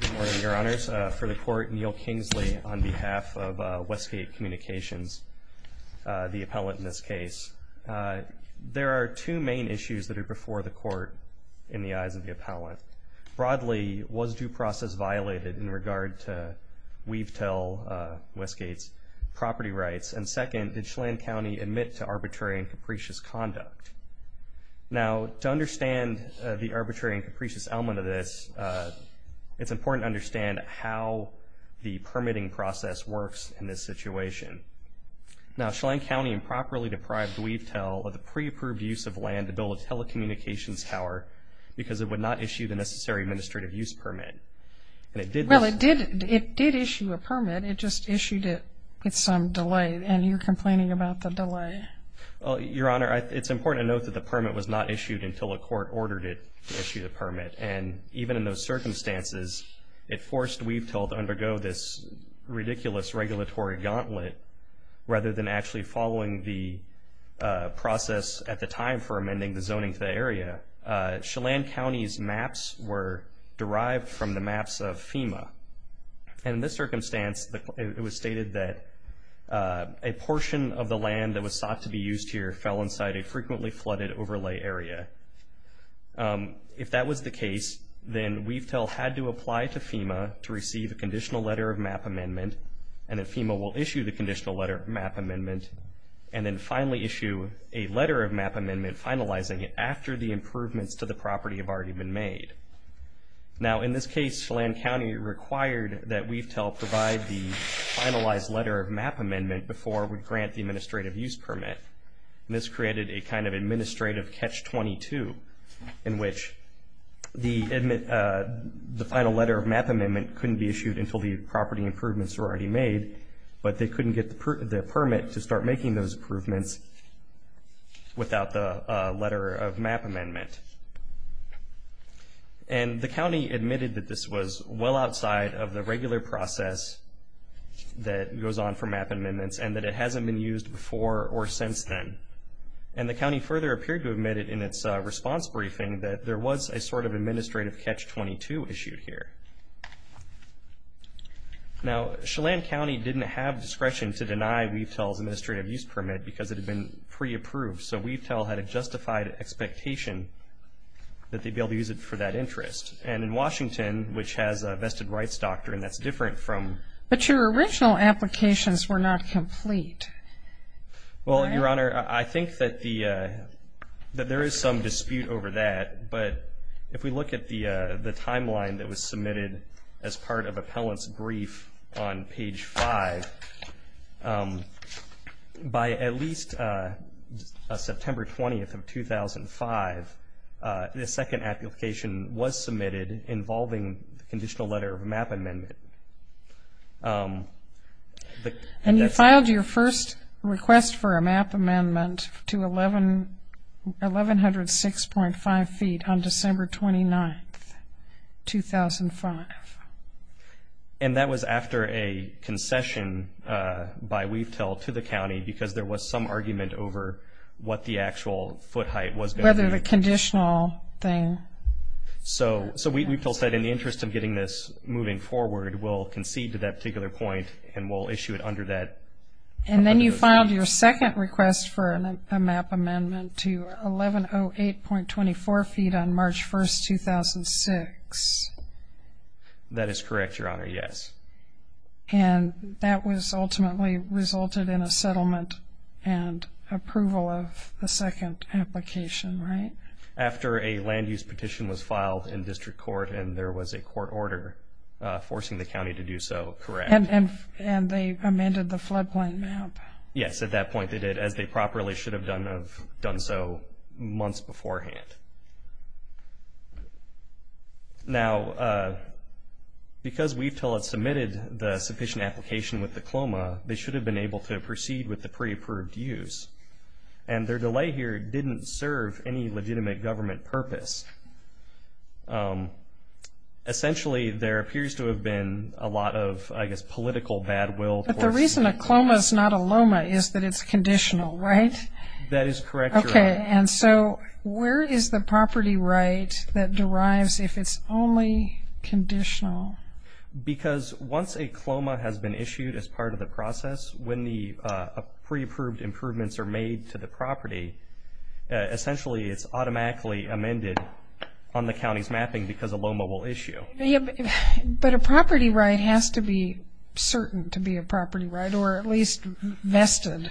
Good morning, your honors. For the court, Neil Kingsley on behalf of Westgate Communications, the appellant in this case. There are two main issues that are before the court in the eyes of the appellant. Broadly, was due process violated in regard to Weavetail, Westgate's property rights? And second, did Chelan County admit to arbitrary and capricious conduct? Now, to understand the arbitrary and capricious element of this, it's important to understand how the permitting process works in this situation. Now, Chelan County improperly deprived Weavetail of the pre-approved use of land to build a telecommunications tower because it would not issue the necessary administrative use permit. And it did... Well, it did issue a permit, it just issued it with some delay and you're complaining about the delay. Well, your honor, it's important to note that the permit was not issued until a court ordered it to issue the permit. And even in those circumstances, it forced Weavetail to undergo this ridiculous regulatory gauntlet rather than actually following the process at the time for amending the zoning to the area. Chelan County's maps were derived from the maps of FEMA. And in this circumstance, it was stated that a portion of the land that was sought to be used here fell inside a frequently flooded overlay area. If that was the case, then Weavetail had to apply to FEMA to receive a conditional letter of map amendment, and then FEMA will issue the conditional letter of map amendment, and then finally issue a letter of map amendment finalizing after the improvements to the property have already been made. Now, in this case, Chelan County required that Weavetail provide the finalized letter of map amendment before we grant the administrative use permit. And this created a kind of administrative catch-22 in which the final letter of map amendment couldn't be issued until the property improvements were already made, but they couldn't get the permit to start making those improvements without the letter of map amendment. And the county admitted that this was well outside of the regular process that goes on for map amendments, and that it hasn't been used before or since then. And the county further appeared to admit it in its response briefing that there was a sort of administrative catch-22 issued here. Now, Chelan County didn't have because it had been pre-approved, so Weavetail had a justified expectation that they'd be able to use it for that interest. And in Washington, which has a vested rights doctrine that's different from... But your original applications were not complete. Well, Your Honor, I think that there is some dispute over that, but if we look at the timeline that was submitted as part of appellant's brief on page 5, by at least September 20th of 2005, the second application was submitted involving the conditional letter of map amendment. And you filed your first request for a map amendment to 1106.5 feet on December 29th, 2005. And that was after a concession by Weavetail to the county because there was some argument over what the actual foot height was going to be. Whether the conditional thing. So Weavetail said in the interest of getting this moving forward, we'll concede to that particular point and we'll issue it under that. And then you filed your second request for a map amendment to 1106.5. That is correct, Your Honor, yes. And that was ultimately resulted in a settlement and approval of the second application, right? After a land use petition was filed in district court and there was a court order forcing the county to do so, correct? And they amended the floodplain map. Yes, at that point they did, as they properly should have done so months beforehand. Now, because Weavetail had submitted the sufficient application with the CLOMA, they should have been able to proceed with the pre-approved use. And their delay here didn't serve any legitimate government purpose. Essentially, there appears to have been a lot of, I guess, political bad will. But the reason a CLOMA is not a LOMA is that it's conditional, right? That is correct, Your Honor. Okay, and so where is the property right that derives if it's only conditional? Because once a CLOMA has been issued as part of the process, when the pre-approved improvements are made to the property, essentially it's automatically amended on the county's mapping because a LOMA will issue. But a property right has to be certain to be a property right or at least vested.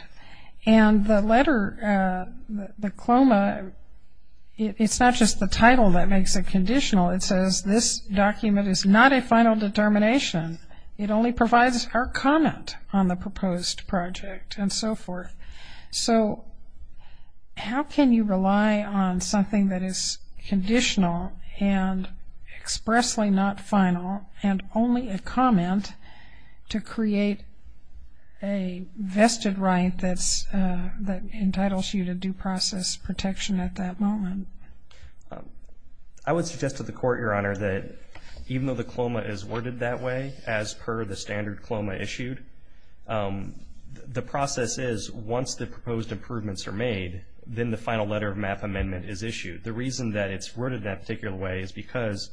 And the letter, the CLOMA, it's not just the title that makes it conditional. It says this document is not a final determination. It only provides our comment on the proposed project and so forth. So, how can you rely on something that is conditional and expressly not final and only a comment to create a vested right that entitles you to due process protection at that moment? I would suggest to the court, Your Honor, that even though the CLOMA is worded that way, as per the standard CLOMA issued, the process is once the proposed improvements are made, then the final letter of MAP amendment is issued. The reason that it's worded that particular way is because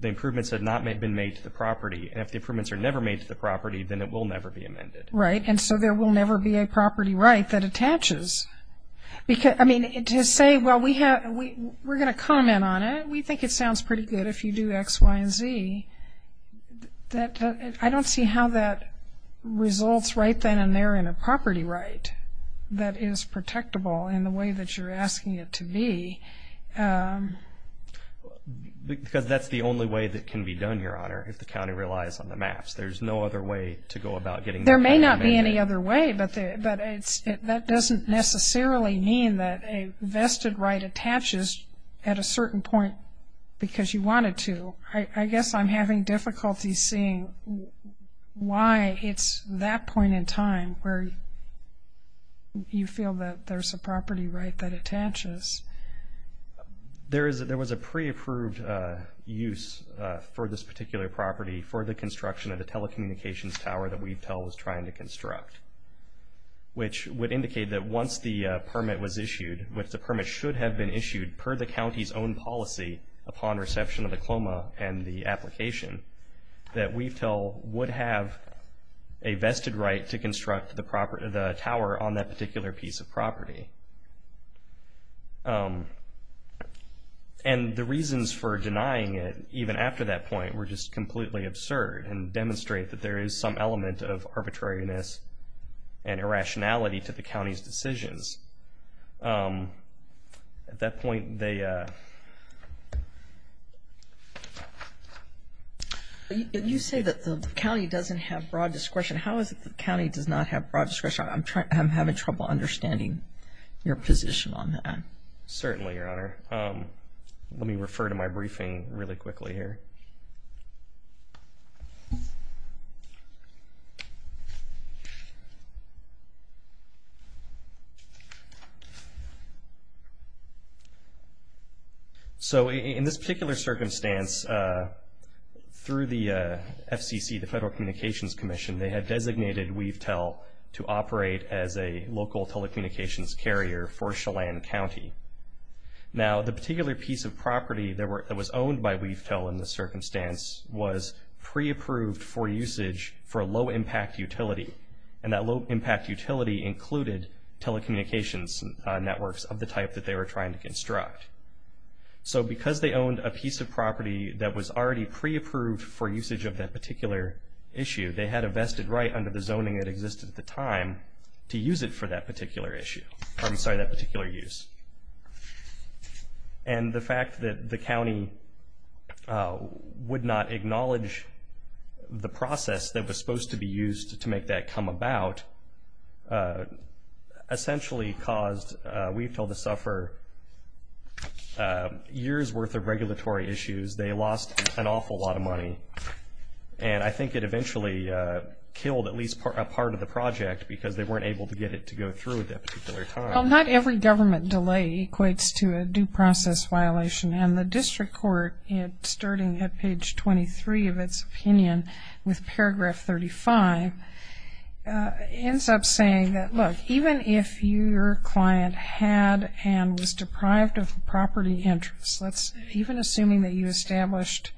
the improvements had not been made to the property. And if the improvements are never made to the property, then it will never be amended. Right. And so there will never be a property right that attaches. I mean, to say, well, we're going to comment on it. We think it sounds pretty good if you do X, Y, and Z. I don't see how that results right then and there in a property right that is protectable in the way that you're asking it to be. Because that's the only way that can be done, Your Honor, if the county relies on the maps. There's no other way to go about getting that amendment. There may not be any other way, but that doesn't necessarily mean that a vested right attaches at a certain point because you wanted to. I guess I'm having difficulty seeing why it's that point in time where you feel that there's a property right that attaches. Yes. There was a pre-approved use for this particular property for the construction of the telecommunications tower that Weavetel was trying to construct, which would indicate that once the permit was issued, which the permit should have been issued per the county's own policy upon reception of the CLOMA and the application, that Weavetel would have a vested right to it. And the reasons for denying it, even after that point, were just completely absurd and demonstrate that there is some element of arbitrariness and irrationality to the county's decisions. At that point, they... If you say that the county doesn't have broad discretion, how is it the county does not have broad discretion? I'm having trouble understanding your position on that. Certainly, Your Honor. Let me refer to my briefing really quickly here. So in this particular circumstance, through the FCC, the Federal Communications Commission, they had designated Weavetel to operate as a local telecommunications carrier for Chelan County. Now, the particular piece of property that was owned by Weavetel in this circumstance was pre-approved for usage for a low-impact utility, and that low-impact utility included telecommunications networks of the type that they were trying to construct. So because they owned a piece of property that was already pre-approved for usage of that particular issue, they had a vested right under the zoning that existed at the time to use it for that particular issue. I'm sorry, that particular use. And the fact that the county would not acknowledge the process that was supposed to be used to make that come about essentially caused Weavetel to suffer years' worth of regulatory issues. They lost an awful lot of money. And I think it eventually killed at least a part of the project because they weren't able to get it to go through at that particular time. Well, not every government delay equates to a due process violation, and the District Court, starting at page 23 of its opinion with paragraph 35, ends up saying that, look, even if your client had and was deprived of property interests, let's even assuming that you established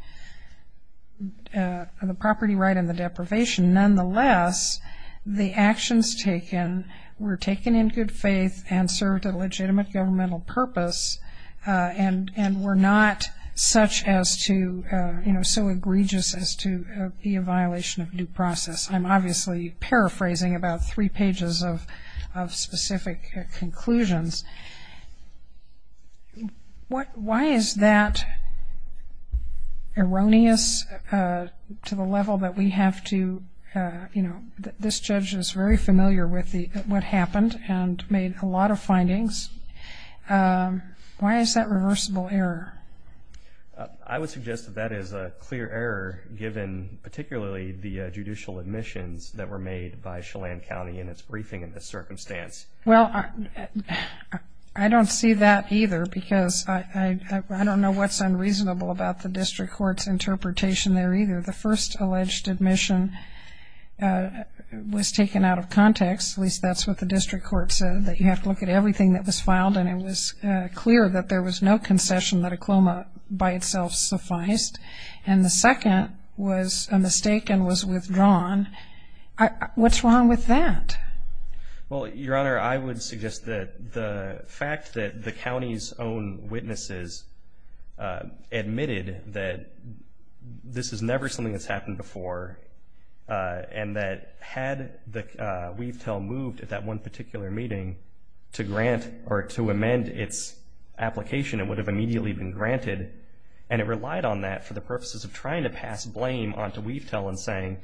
the property right and the deprivation, nonetheless, the actions taken were taken in good faith and served a legitimate governmental purpose and were not such as to, you know, so egregious as to be a violation of due process. I'm obviously paraphrasing about three pages of specific conclusions. Why is that erroneous to the level that we have to, you know, this judge is very familiar with what happened and made a lot of findings. Why is that reversible error? I would suggest that that is a clear error given particularly the judicial admissions that were made by Chelan County in its briefing in this circumstance. Well, I don't see that either because I don't know what's unreasonable about the District Court's interpretation there either. The first alleged admission was taken out of context, at least that's what the District Court said, that you have to look at everything that was filed and it was clear that there was no concession that a CLOMA by itself sufficed. And the second was a mistake and was withdrawn. What's wrong with that? Well, Your Honor, I would suggest that the fact that the county's own witnesses admitted that this is never something that's happened before and that had WeaveTel moved at that one particular meeting to grant or to amend its application, it would have immediately been granted. And it relied on that for the purposes of trying to pass blame onto WeaveTel in saying,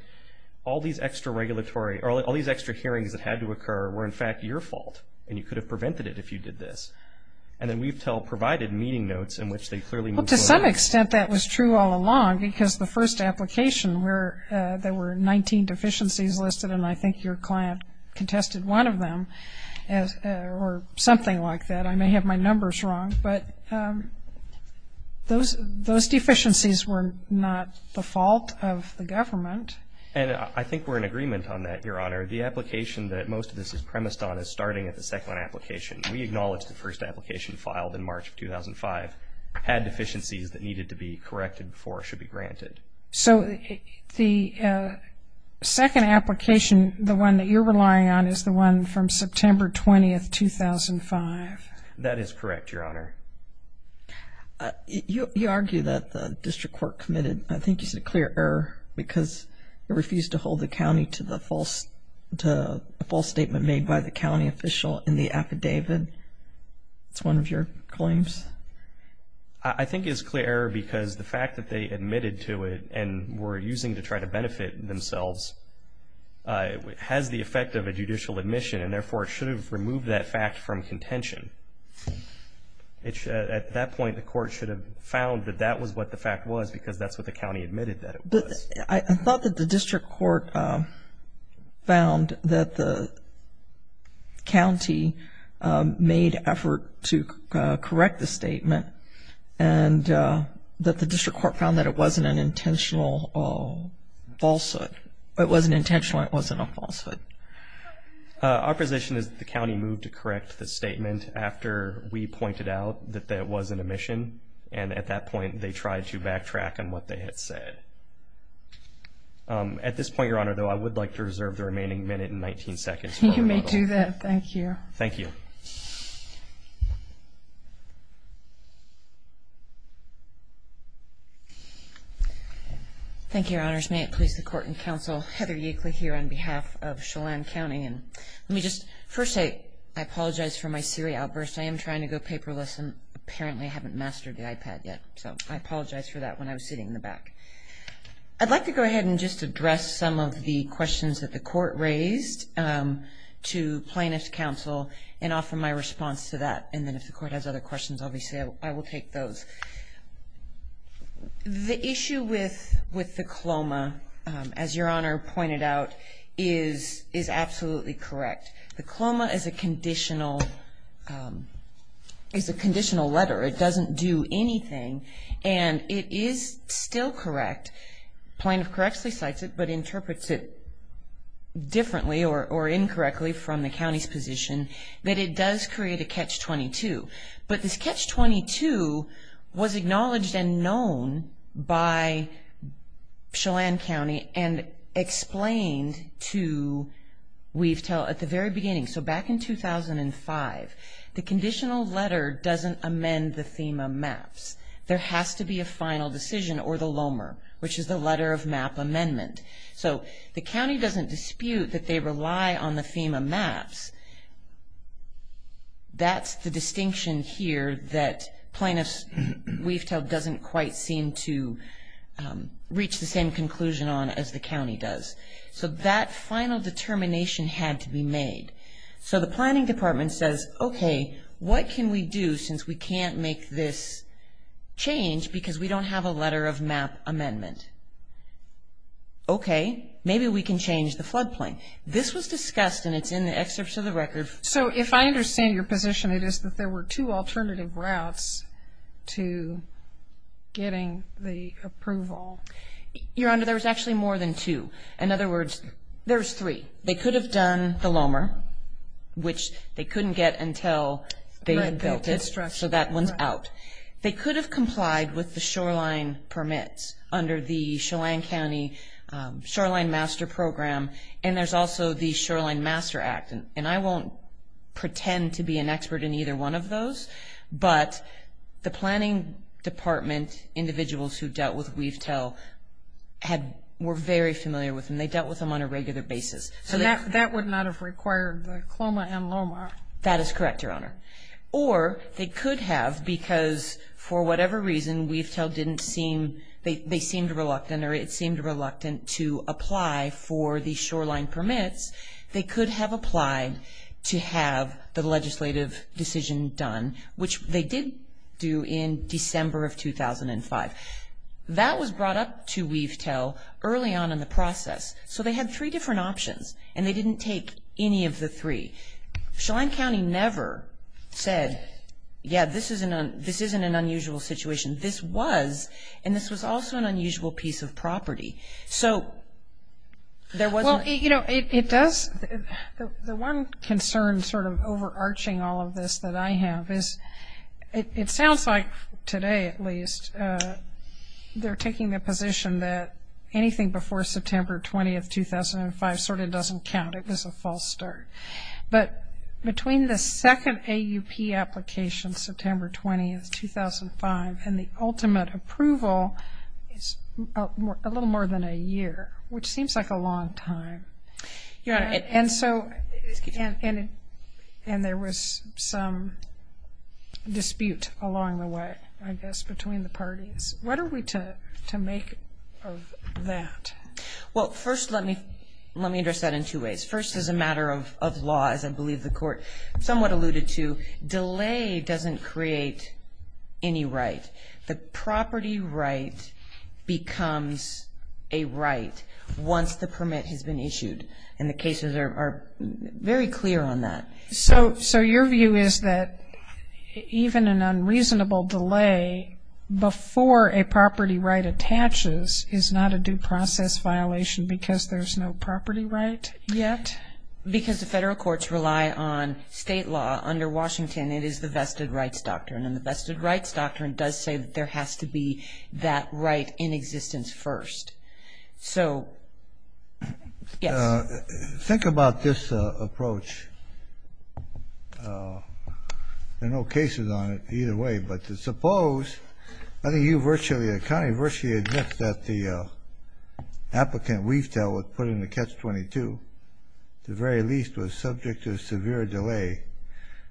all these extra hearings that had to occur were in fact your fault and you could have prevented it if you did this. And then WeaveTel provided meeting notes in which they clearly moved. Well, to some extent that was true all along because the first application there were 19 deficiencies listed and I think your client contested one of them or something like that. I may have my numbers wrong. But those deficiencies were not the fault of the government. And I think we're in agreement on that, Your Honor. The application that most of this is premised on is starting at the second application. We acknowledge the first application filed in March of 2005 had deficiencies that needed to be corrected before should be granted. So the second application, the one that you're arguing that the district court committed, I think it's a clear error because it refused to hold the county to the false statement made by the county official in the affidavit. It's one of your claims? I think it's a clear error because the fact that they admitted to it and were using to try to benefit themselves has the effect of a judicial admission and therefore should have removed that fact from contention. At that point the court should have found that that was what the fact was because that's what the county admitted that it was. I thought that the district court found that the county made effort to correct the statement and that the district court found that it wasn't an intentional falsehood. It wasn't intentional and it wasn't a the county moved to correct the statement after we pointed out that that wasn't a mission and at that point they tried to backtrack on what they had said. At this point, Your Honor, though I would like to reserve the remaining minute and 19 seconds. You may do that. Thank you. Thank you. Thank you, Your Honors. May it please the court and counsel. Heather Yeakley here on behalf of I apologize for my Siri outburst. I am trying to go paperless and apparently I haven't mastered the iPad yet so I apologize for that when I was sitting in the back. I'd like to go ahead and just address some of the questions that the court raised to plaintiff's counsel and offer my response to that and then if the court has other questions obviously I will take those. The issue with the pointed out is absolutely correct. The CLOMA is a conditional letter. It doesn't do anything and it is still correct. Plaintiff correctly cites it but interprets it differently or incorrectly from the county's position that it does create a catch-22. But this catch-22 was acknowledged and explained to Weavetail at the very beginning. So back in 2005, the conditional letter doesn't amend the FEMA maps. There has to be a final decision or the LOMER which is the letter of map amendment. So the county doesn't dispute that they rely on the FEMA maps. That's the distinction here that plaintiff Weavetail doesn't quite seem to reach the same conclusion on as the county does. So that final determination had to be made. So the planning department says okay what can we do since we can't make this change because we don't have a letter of map amendment. Okay maybe we can change the floodplain. This was discussed and it's in the excerpts of the record. So if I understand your position it is that there were two alternative routes to getting the approval. Your Honor there's actually more than two. In other words there's three. They could have done the LOMER which they couldn't get until they built it so that one's out. They could have complied with the shoreline permits under the Chelan County Shoreline Master Program and there's also the Shoreline Master Act and I won't pretend to be an expert in either one of those but the planning department individuals who dealt with Weavetail were very familiar with them. They dealt with them on a regular basis. So that would not have required the CLOMA and LOMER. That is correct Your Honor. Or they could have because for whatever reason Weavetail didn't seem they seemed reluctant or it seemed reluctant to apply for the shoreline permits. They could have applied to have the legislative decision done which they did do in December of 2005. That was brought up to Weavetail early on in the process. So they had three different options and they didn't take any of the three. Chelan County never said yeah this isn't an unusual situation. This was also an unusual piece of property. So there wasn't Well you know it does the one concern sort of overarching all of this that I have is it sounds like today at least they're taking the position that anything before September 20, 2005 sort of doesn't count. It was a false start. But between the second AUP application September 20, 2005 and the ultimate approval is a little more than a year which seems like a long time. Your Honor and so and there was some dispute along the way I guess between the parties. What are we to make of that? Well first let me address that in two ways. First as a matter of law as I believe the court somewhat alluded to delay doesn't create any right. The property right becomes a right once the permit has been issued and the cases are very clear on that. So your view is that even an unreasonable delay before a property right attaches is not a due process violation because there's no property right yet? Because the federal courts rely on state law under Washington it is the vested rights doctrine and the vested rights doctrine does say that there has to be that right in existence first. So yes. Think about this approach. There are no cases on it either way but suppose I think you a county virtually admits that the applicant Weaftel was put in the Catch-22. At the very least was subject to a severe delay.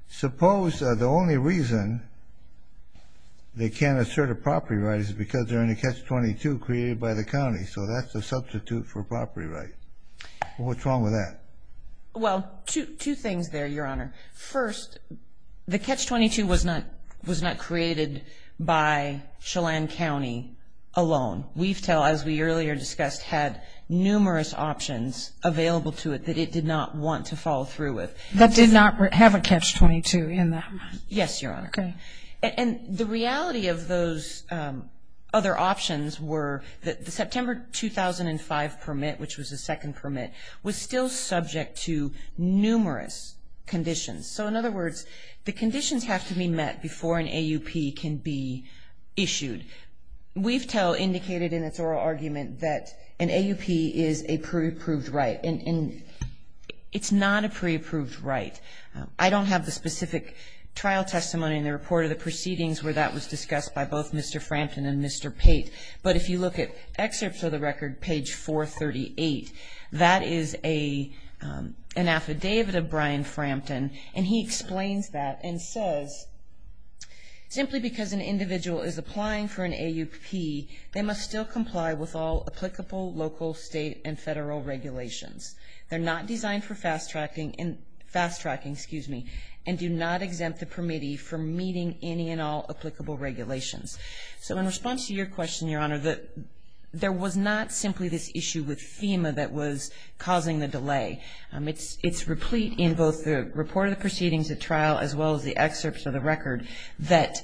Suppose the only reason they can't assert a property right is because they're in a Catch-22 created by the county so that's a substitute for a property right. What's wrong with that? Well two things there your Honor. First the Catch-22 was not was not created by Chelan County alone. Weaftel as we earlier discussed had numerous options available to it that it did not want to follow through with. That did not have a Catch-22 in that? Yes your Honor. And the reality of those other options were that the September 2005 permit which was the second permit was still subject to numerous conditions. So in other words the conditions have to be met before an AUP can be issued. Weaftel indicated in its oral argument that an AUP is a pre-approved right. It's not a pre-approved right. I don't have the specific trial testimony in the report of the proceedings where that was discussed by both Mr. Frampton and Mr. Tate but if you look at excerpts of the record page 438 that is a an affidavit of Brian Frampton and he explains that and says simply because an individual is applying for an AUP they must still comply with all applicable local state and federal regulations. They're not designed for fast tracking and fast tracking excuse me and do not exempt the permittee for meeting any and all applicable regulations. So in response to your question your Honor that there was not simply this issue with FEMA that was causing the delay. It's it's replete in both the report of the proceedings at trial as well as the excerpts of the record that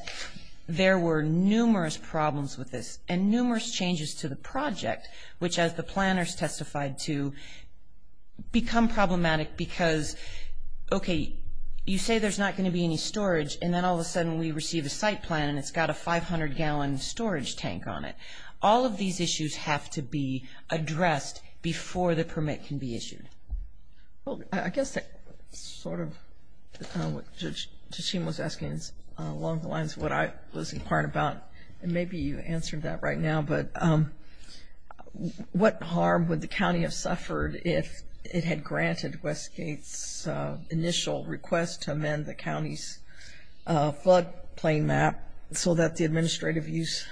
there were numerous problems with this and numerous changes to the project which as the planners testified to become problematic because okay you say there's not going to be any storage and then all of a sudden we receive a site plan and it's got a 500 gallon storage tank on it. All of these issues have to be addressed before the permit can be issued. Well I guess that's sort of what Justine was asking along the lines of what I was inquiring about and maybe you answered that right now but what harm would the county have suffered if it had granted Westgate's initial request to amend the county's flood plain map so that the administrative use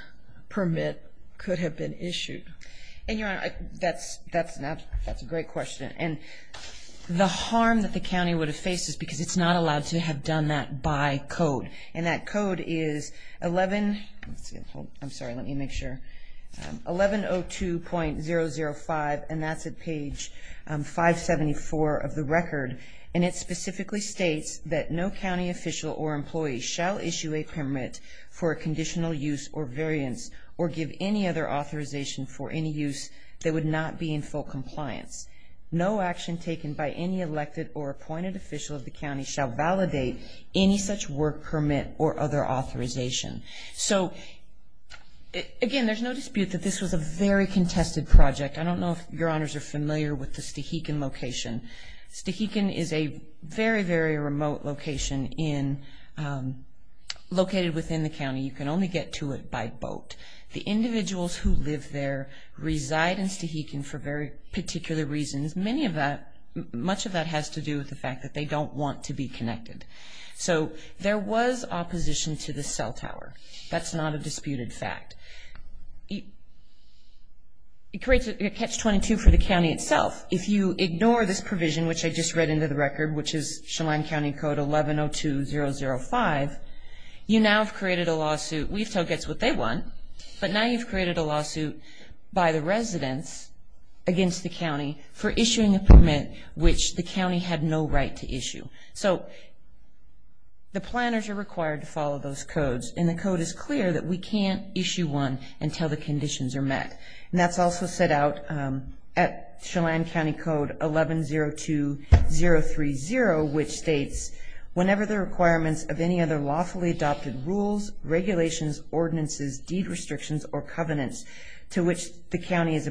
permit could have been issued. And your Honor that's that's not that's a great question and the harm that the county would have faced is because it's not allowed to have on that by code and that code is 11 I'm sorry let me make sure 1102.005 and that's at page 574 of the record and it specifically states that no county official or employee shall issue a permit for a conditional use or variance or give any other authorization for any use that would not be in compliance. No action taken by any elected or appointed official of the county shall validate any such work permit or other authorization. So again there's no dispute that this was a very contested project. I don't know if your honors are familiar with the Stahikon location. Stahikon is a very very remote location in located within the county. You can only get to it by boat. The individuals who live there reside in Stahikon for very particular reasons. Many of that much of that has to do with the fact that they don't want to be connected. So there was opposition to the cell tower. That's not a disputed fact. It creates a catch 22 for the county itself. If you ignore this provision which I just read into the record which is Chelan County Code 1102.005 you now have created a lawsuit. We've told gets what they want. But now you've created a lawsuit by the residents against the county for issuing a permit which the county had no right to issue. So the planners are required to follow those codes and the code is clear that we can't issue one until the conditions are met. And that's also set out at Chelan County Code 1102.030 which states whenever the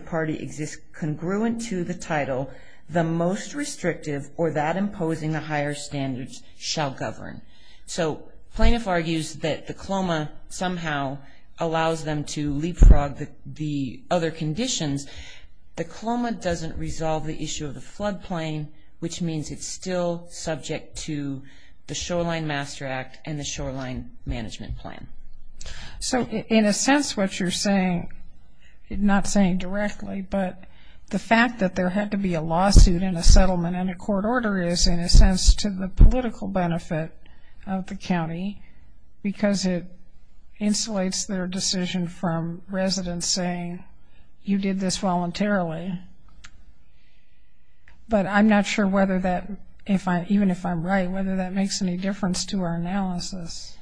party exists congruent to the title the most restrictive or that imposing the higher standards shall govern. So plaintiff argues that the CLOMA somehow allows them to leapfrog the other conditions. The CLOMA doesn't resolve the issue of the floodplain which means it's still subject to the Shoreline Master Act and the Shoreline Management Plan. So in a sense what you're saying not saying directly but the fact that there had to be a lawsuit and a settlement and a court order is in a sense to the political benefit of the county because it insulates their decision from residents saying you did this voluntarily. But I'm not sure that makes any difference to our analysis.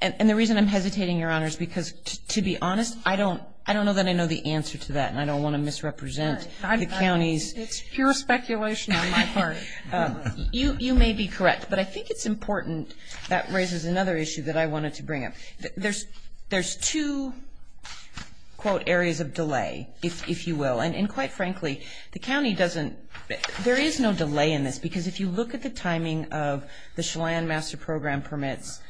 And the reason I'm hesitating, Your Honor, is because to be honest I don't know that I know the answer to that and I don't want to misrepresent the counties. It's pure speculation on my part. You may be correct. But I think it's important that raises another issue that I wanted to bring up. There's two quote areas of delay if you will. And quite frankly the county doesn't there is no delay in this because if you look at the timing of the Shoreline Master Program permits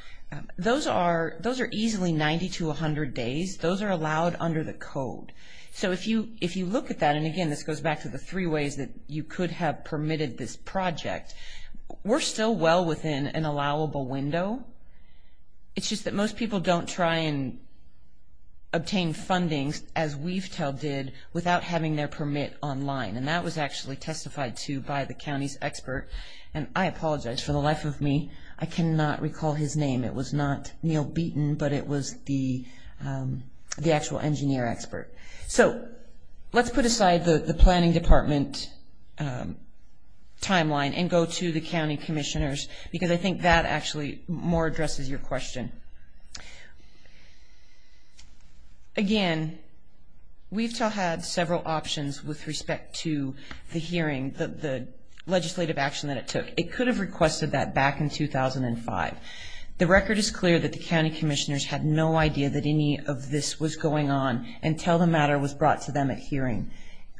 those are those are easily 90 to 100 days. Those are allowed under the code. So if you if you look at that and again this goes back to the three ways that you could have permitted this project. We're still well within an allowable window. It's just that most people don't try and apologize for the life of me. I cannot recall his name. It was not Neil Beaton but it was the the actual engineer expert. So let's put aside the planning department timeline and go to the county commissioners because I think that actually more addresses your question. Again we've had several options with requests of that back in 2005. The record is clear that the county commissioners had no idea that any of this was going on until the matter was brought to them at hearing.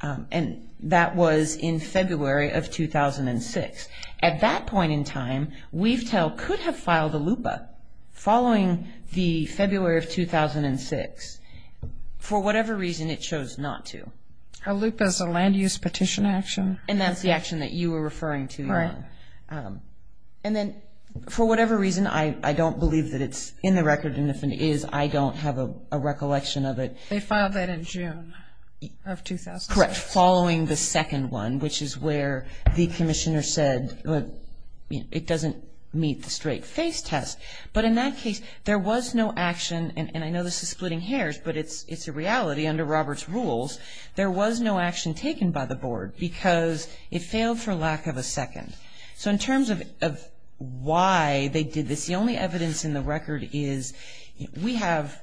And that was in February of 2006. At that point in time we've tell could have filed a loop following the February of 2006 for whatever reason it chose not to. A loop is a land use petition action. And that's the action that you were referring to. Right. And then for whatever reason I don't believe that it's in the record and if it is I don't have a recollection of it. They filed that in June of 2006. Correct. Following the second one which is where the commissioner said it doesn't meet the straight face test. But in that case there was no action and I know this is splitting hairs but it's it's a reality under Robert's rules. There was no action taken by the board because it failed for lack of a second. So in terms of why they did this the only evidence in the record is we have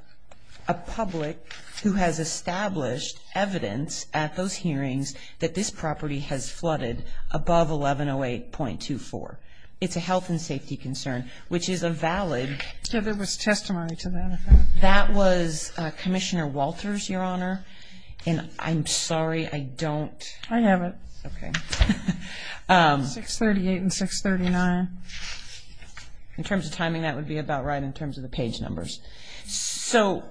a public who has established evidence at those hearings that this property has flooded above 1108.24. It's a health and safety concern which is a valid. So there was testimony to that. That was Commissioner Walters Your Honor. And I'm sorry I don't. I have it. OK. 638 and 639. In terms of timing that would be about right in terms of the page numbers. So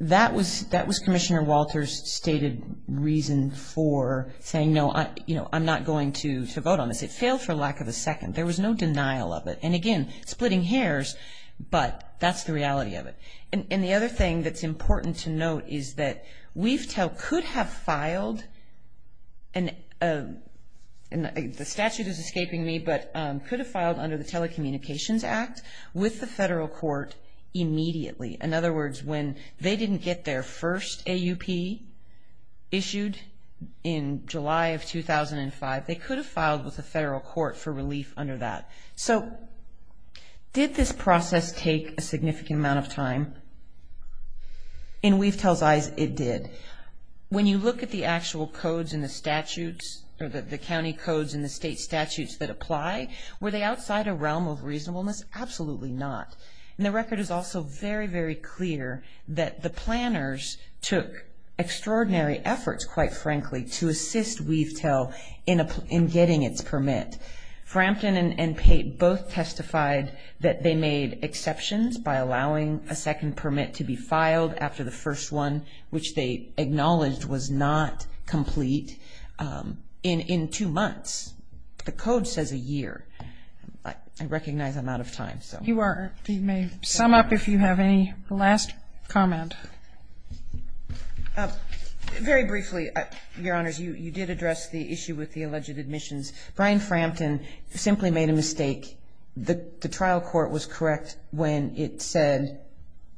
that was that was Commissioner Walters stated reason for saying no I you know I'm not going to vote on this. It failed for lack of a second. There was no denial of it. And again splitting hairs. But that's the reality of it. And the other thing that's important to note is that we've could have filed and the statute is escaping me but could have filed under the Telecommunications Act with the federal court immediately. In other words when they didn't get their first A.U.P. issued in July of 2005 they could have filed with the federal court for relief under that. So did this process take a significant amount of time. In WeaveTel's eyes it did. When you look at the actual codes in the statutes or the county codes in the state statutes that apply were they outside a realm of reasonableness. Absolutely not. And the record is also very very clear that the planners took extraordinary efforts quite frankly to assist WeaveTel in getting its permit. Frampton and Pate both testified that they made exceptions by allowing a second permit to be filed after the first one which they acknowledged was not complete in two months. The code says a year. I recognize I'm out of time so. You may sum up if you have any last comment. Very briefly your honors you did address the issue with the alleged admissions. Brian Frampton simply made a mistake. The trial court was correct when it said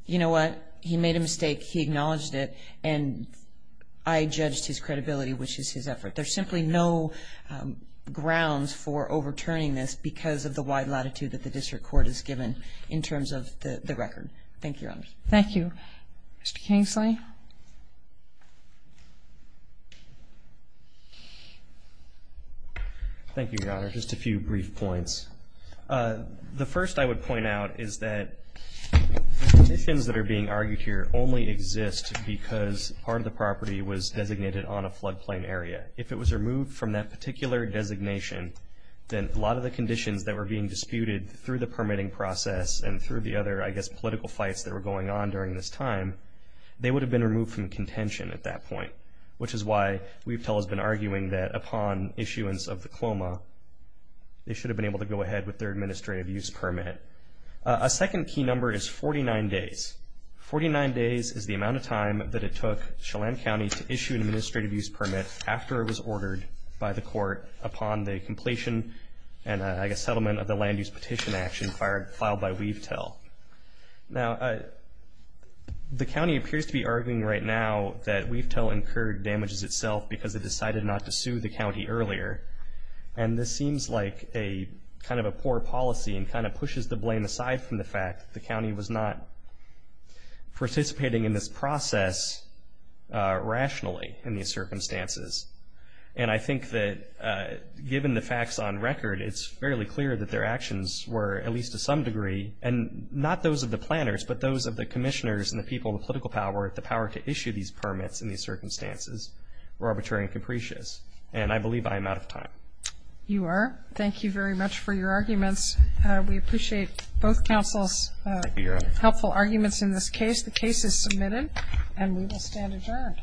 you know what he made a mistake he acknowledged it and I judged his credibility which is his effort. There's simply no grounds for overturning this because of the wide latitude that the district court has given in terms of the record. Thank you your honors. Thank you. Mr. Kingsley. Thank you your honor. Just a few brief points. The first I would point out is that the conditions that are being argued here only exist because part of the property was designated on a flood plain area. If it was removed from that particular designation then a lot of the conditions that were being disputed through the permitting process and through the other I guess political fights that were going on during this time, they would have been removed from contention at that point which is why Weavetel has been arguing that upon issuance of the CLOMA they should have been able to go ahead with their administrative use permit. A second key number is 49 days. 49 days is the amount of time that it took Chelan County to issue an administrative use permit after it was ordered by the court upon the completion and I guess settlement of the land use petition action filed by Weavetel. Now the county appears to be arguing right now that Weavetel incurred damages itself because it decided not to sue the county earlier and this seems like a kind of a poor policy and kind of pushes the blame aside from the fact that the county was not participating in this process rationally in these circumstances. And I think that given the facts on record it's fairly clear that their actions were at least to some degree and not those of the planners but those of the commissioners and the people, the political power, the power to issue these permits in these circumstances were arbitrary and capricious and I believe I am out of time. You are. Thank you very much for your arguments. We appreciate both counsel's helpful arguments in this case. The case is submitted and we will stand adjourned.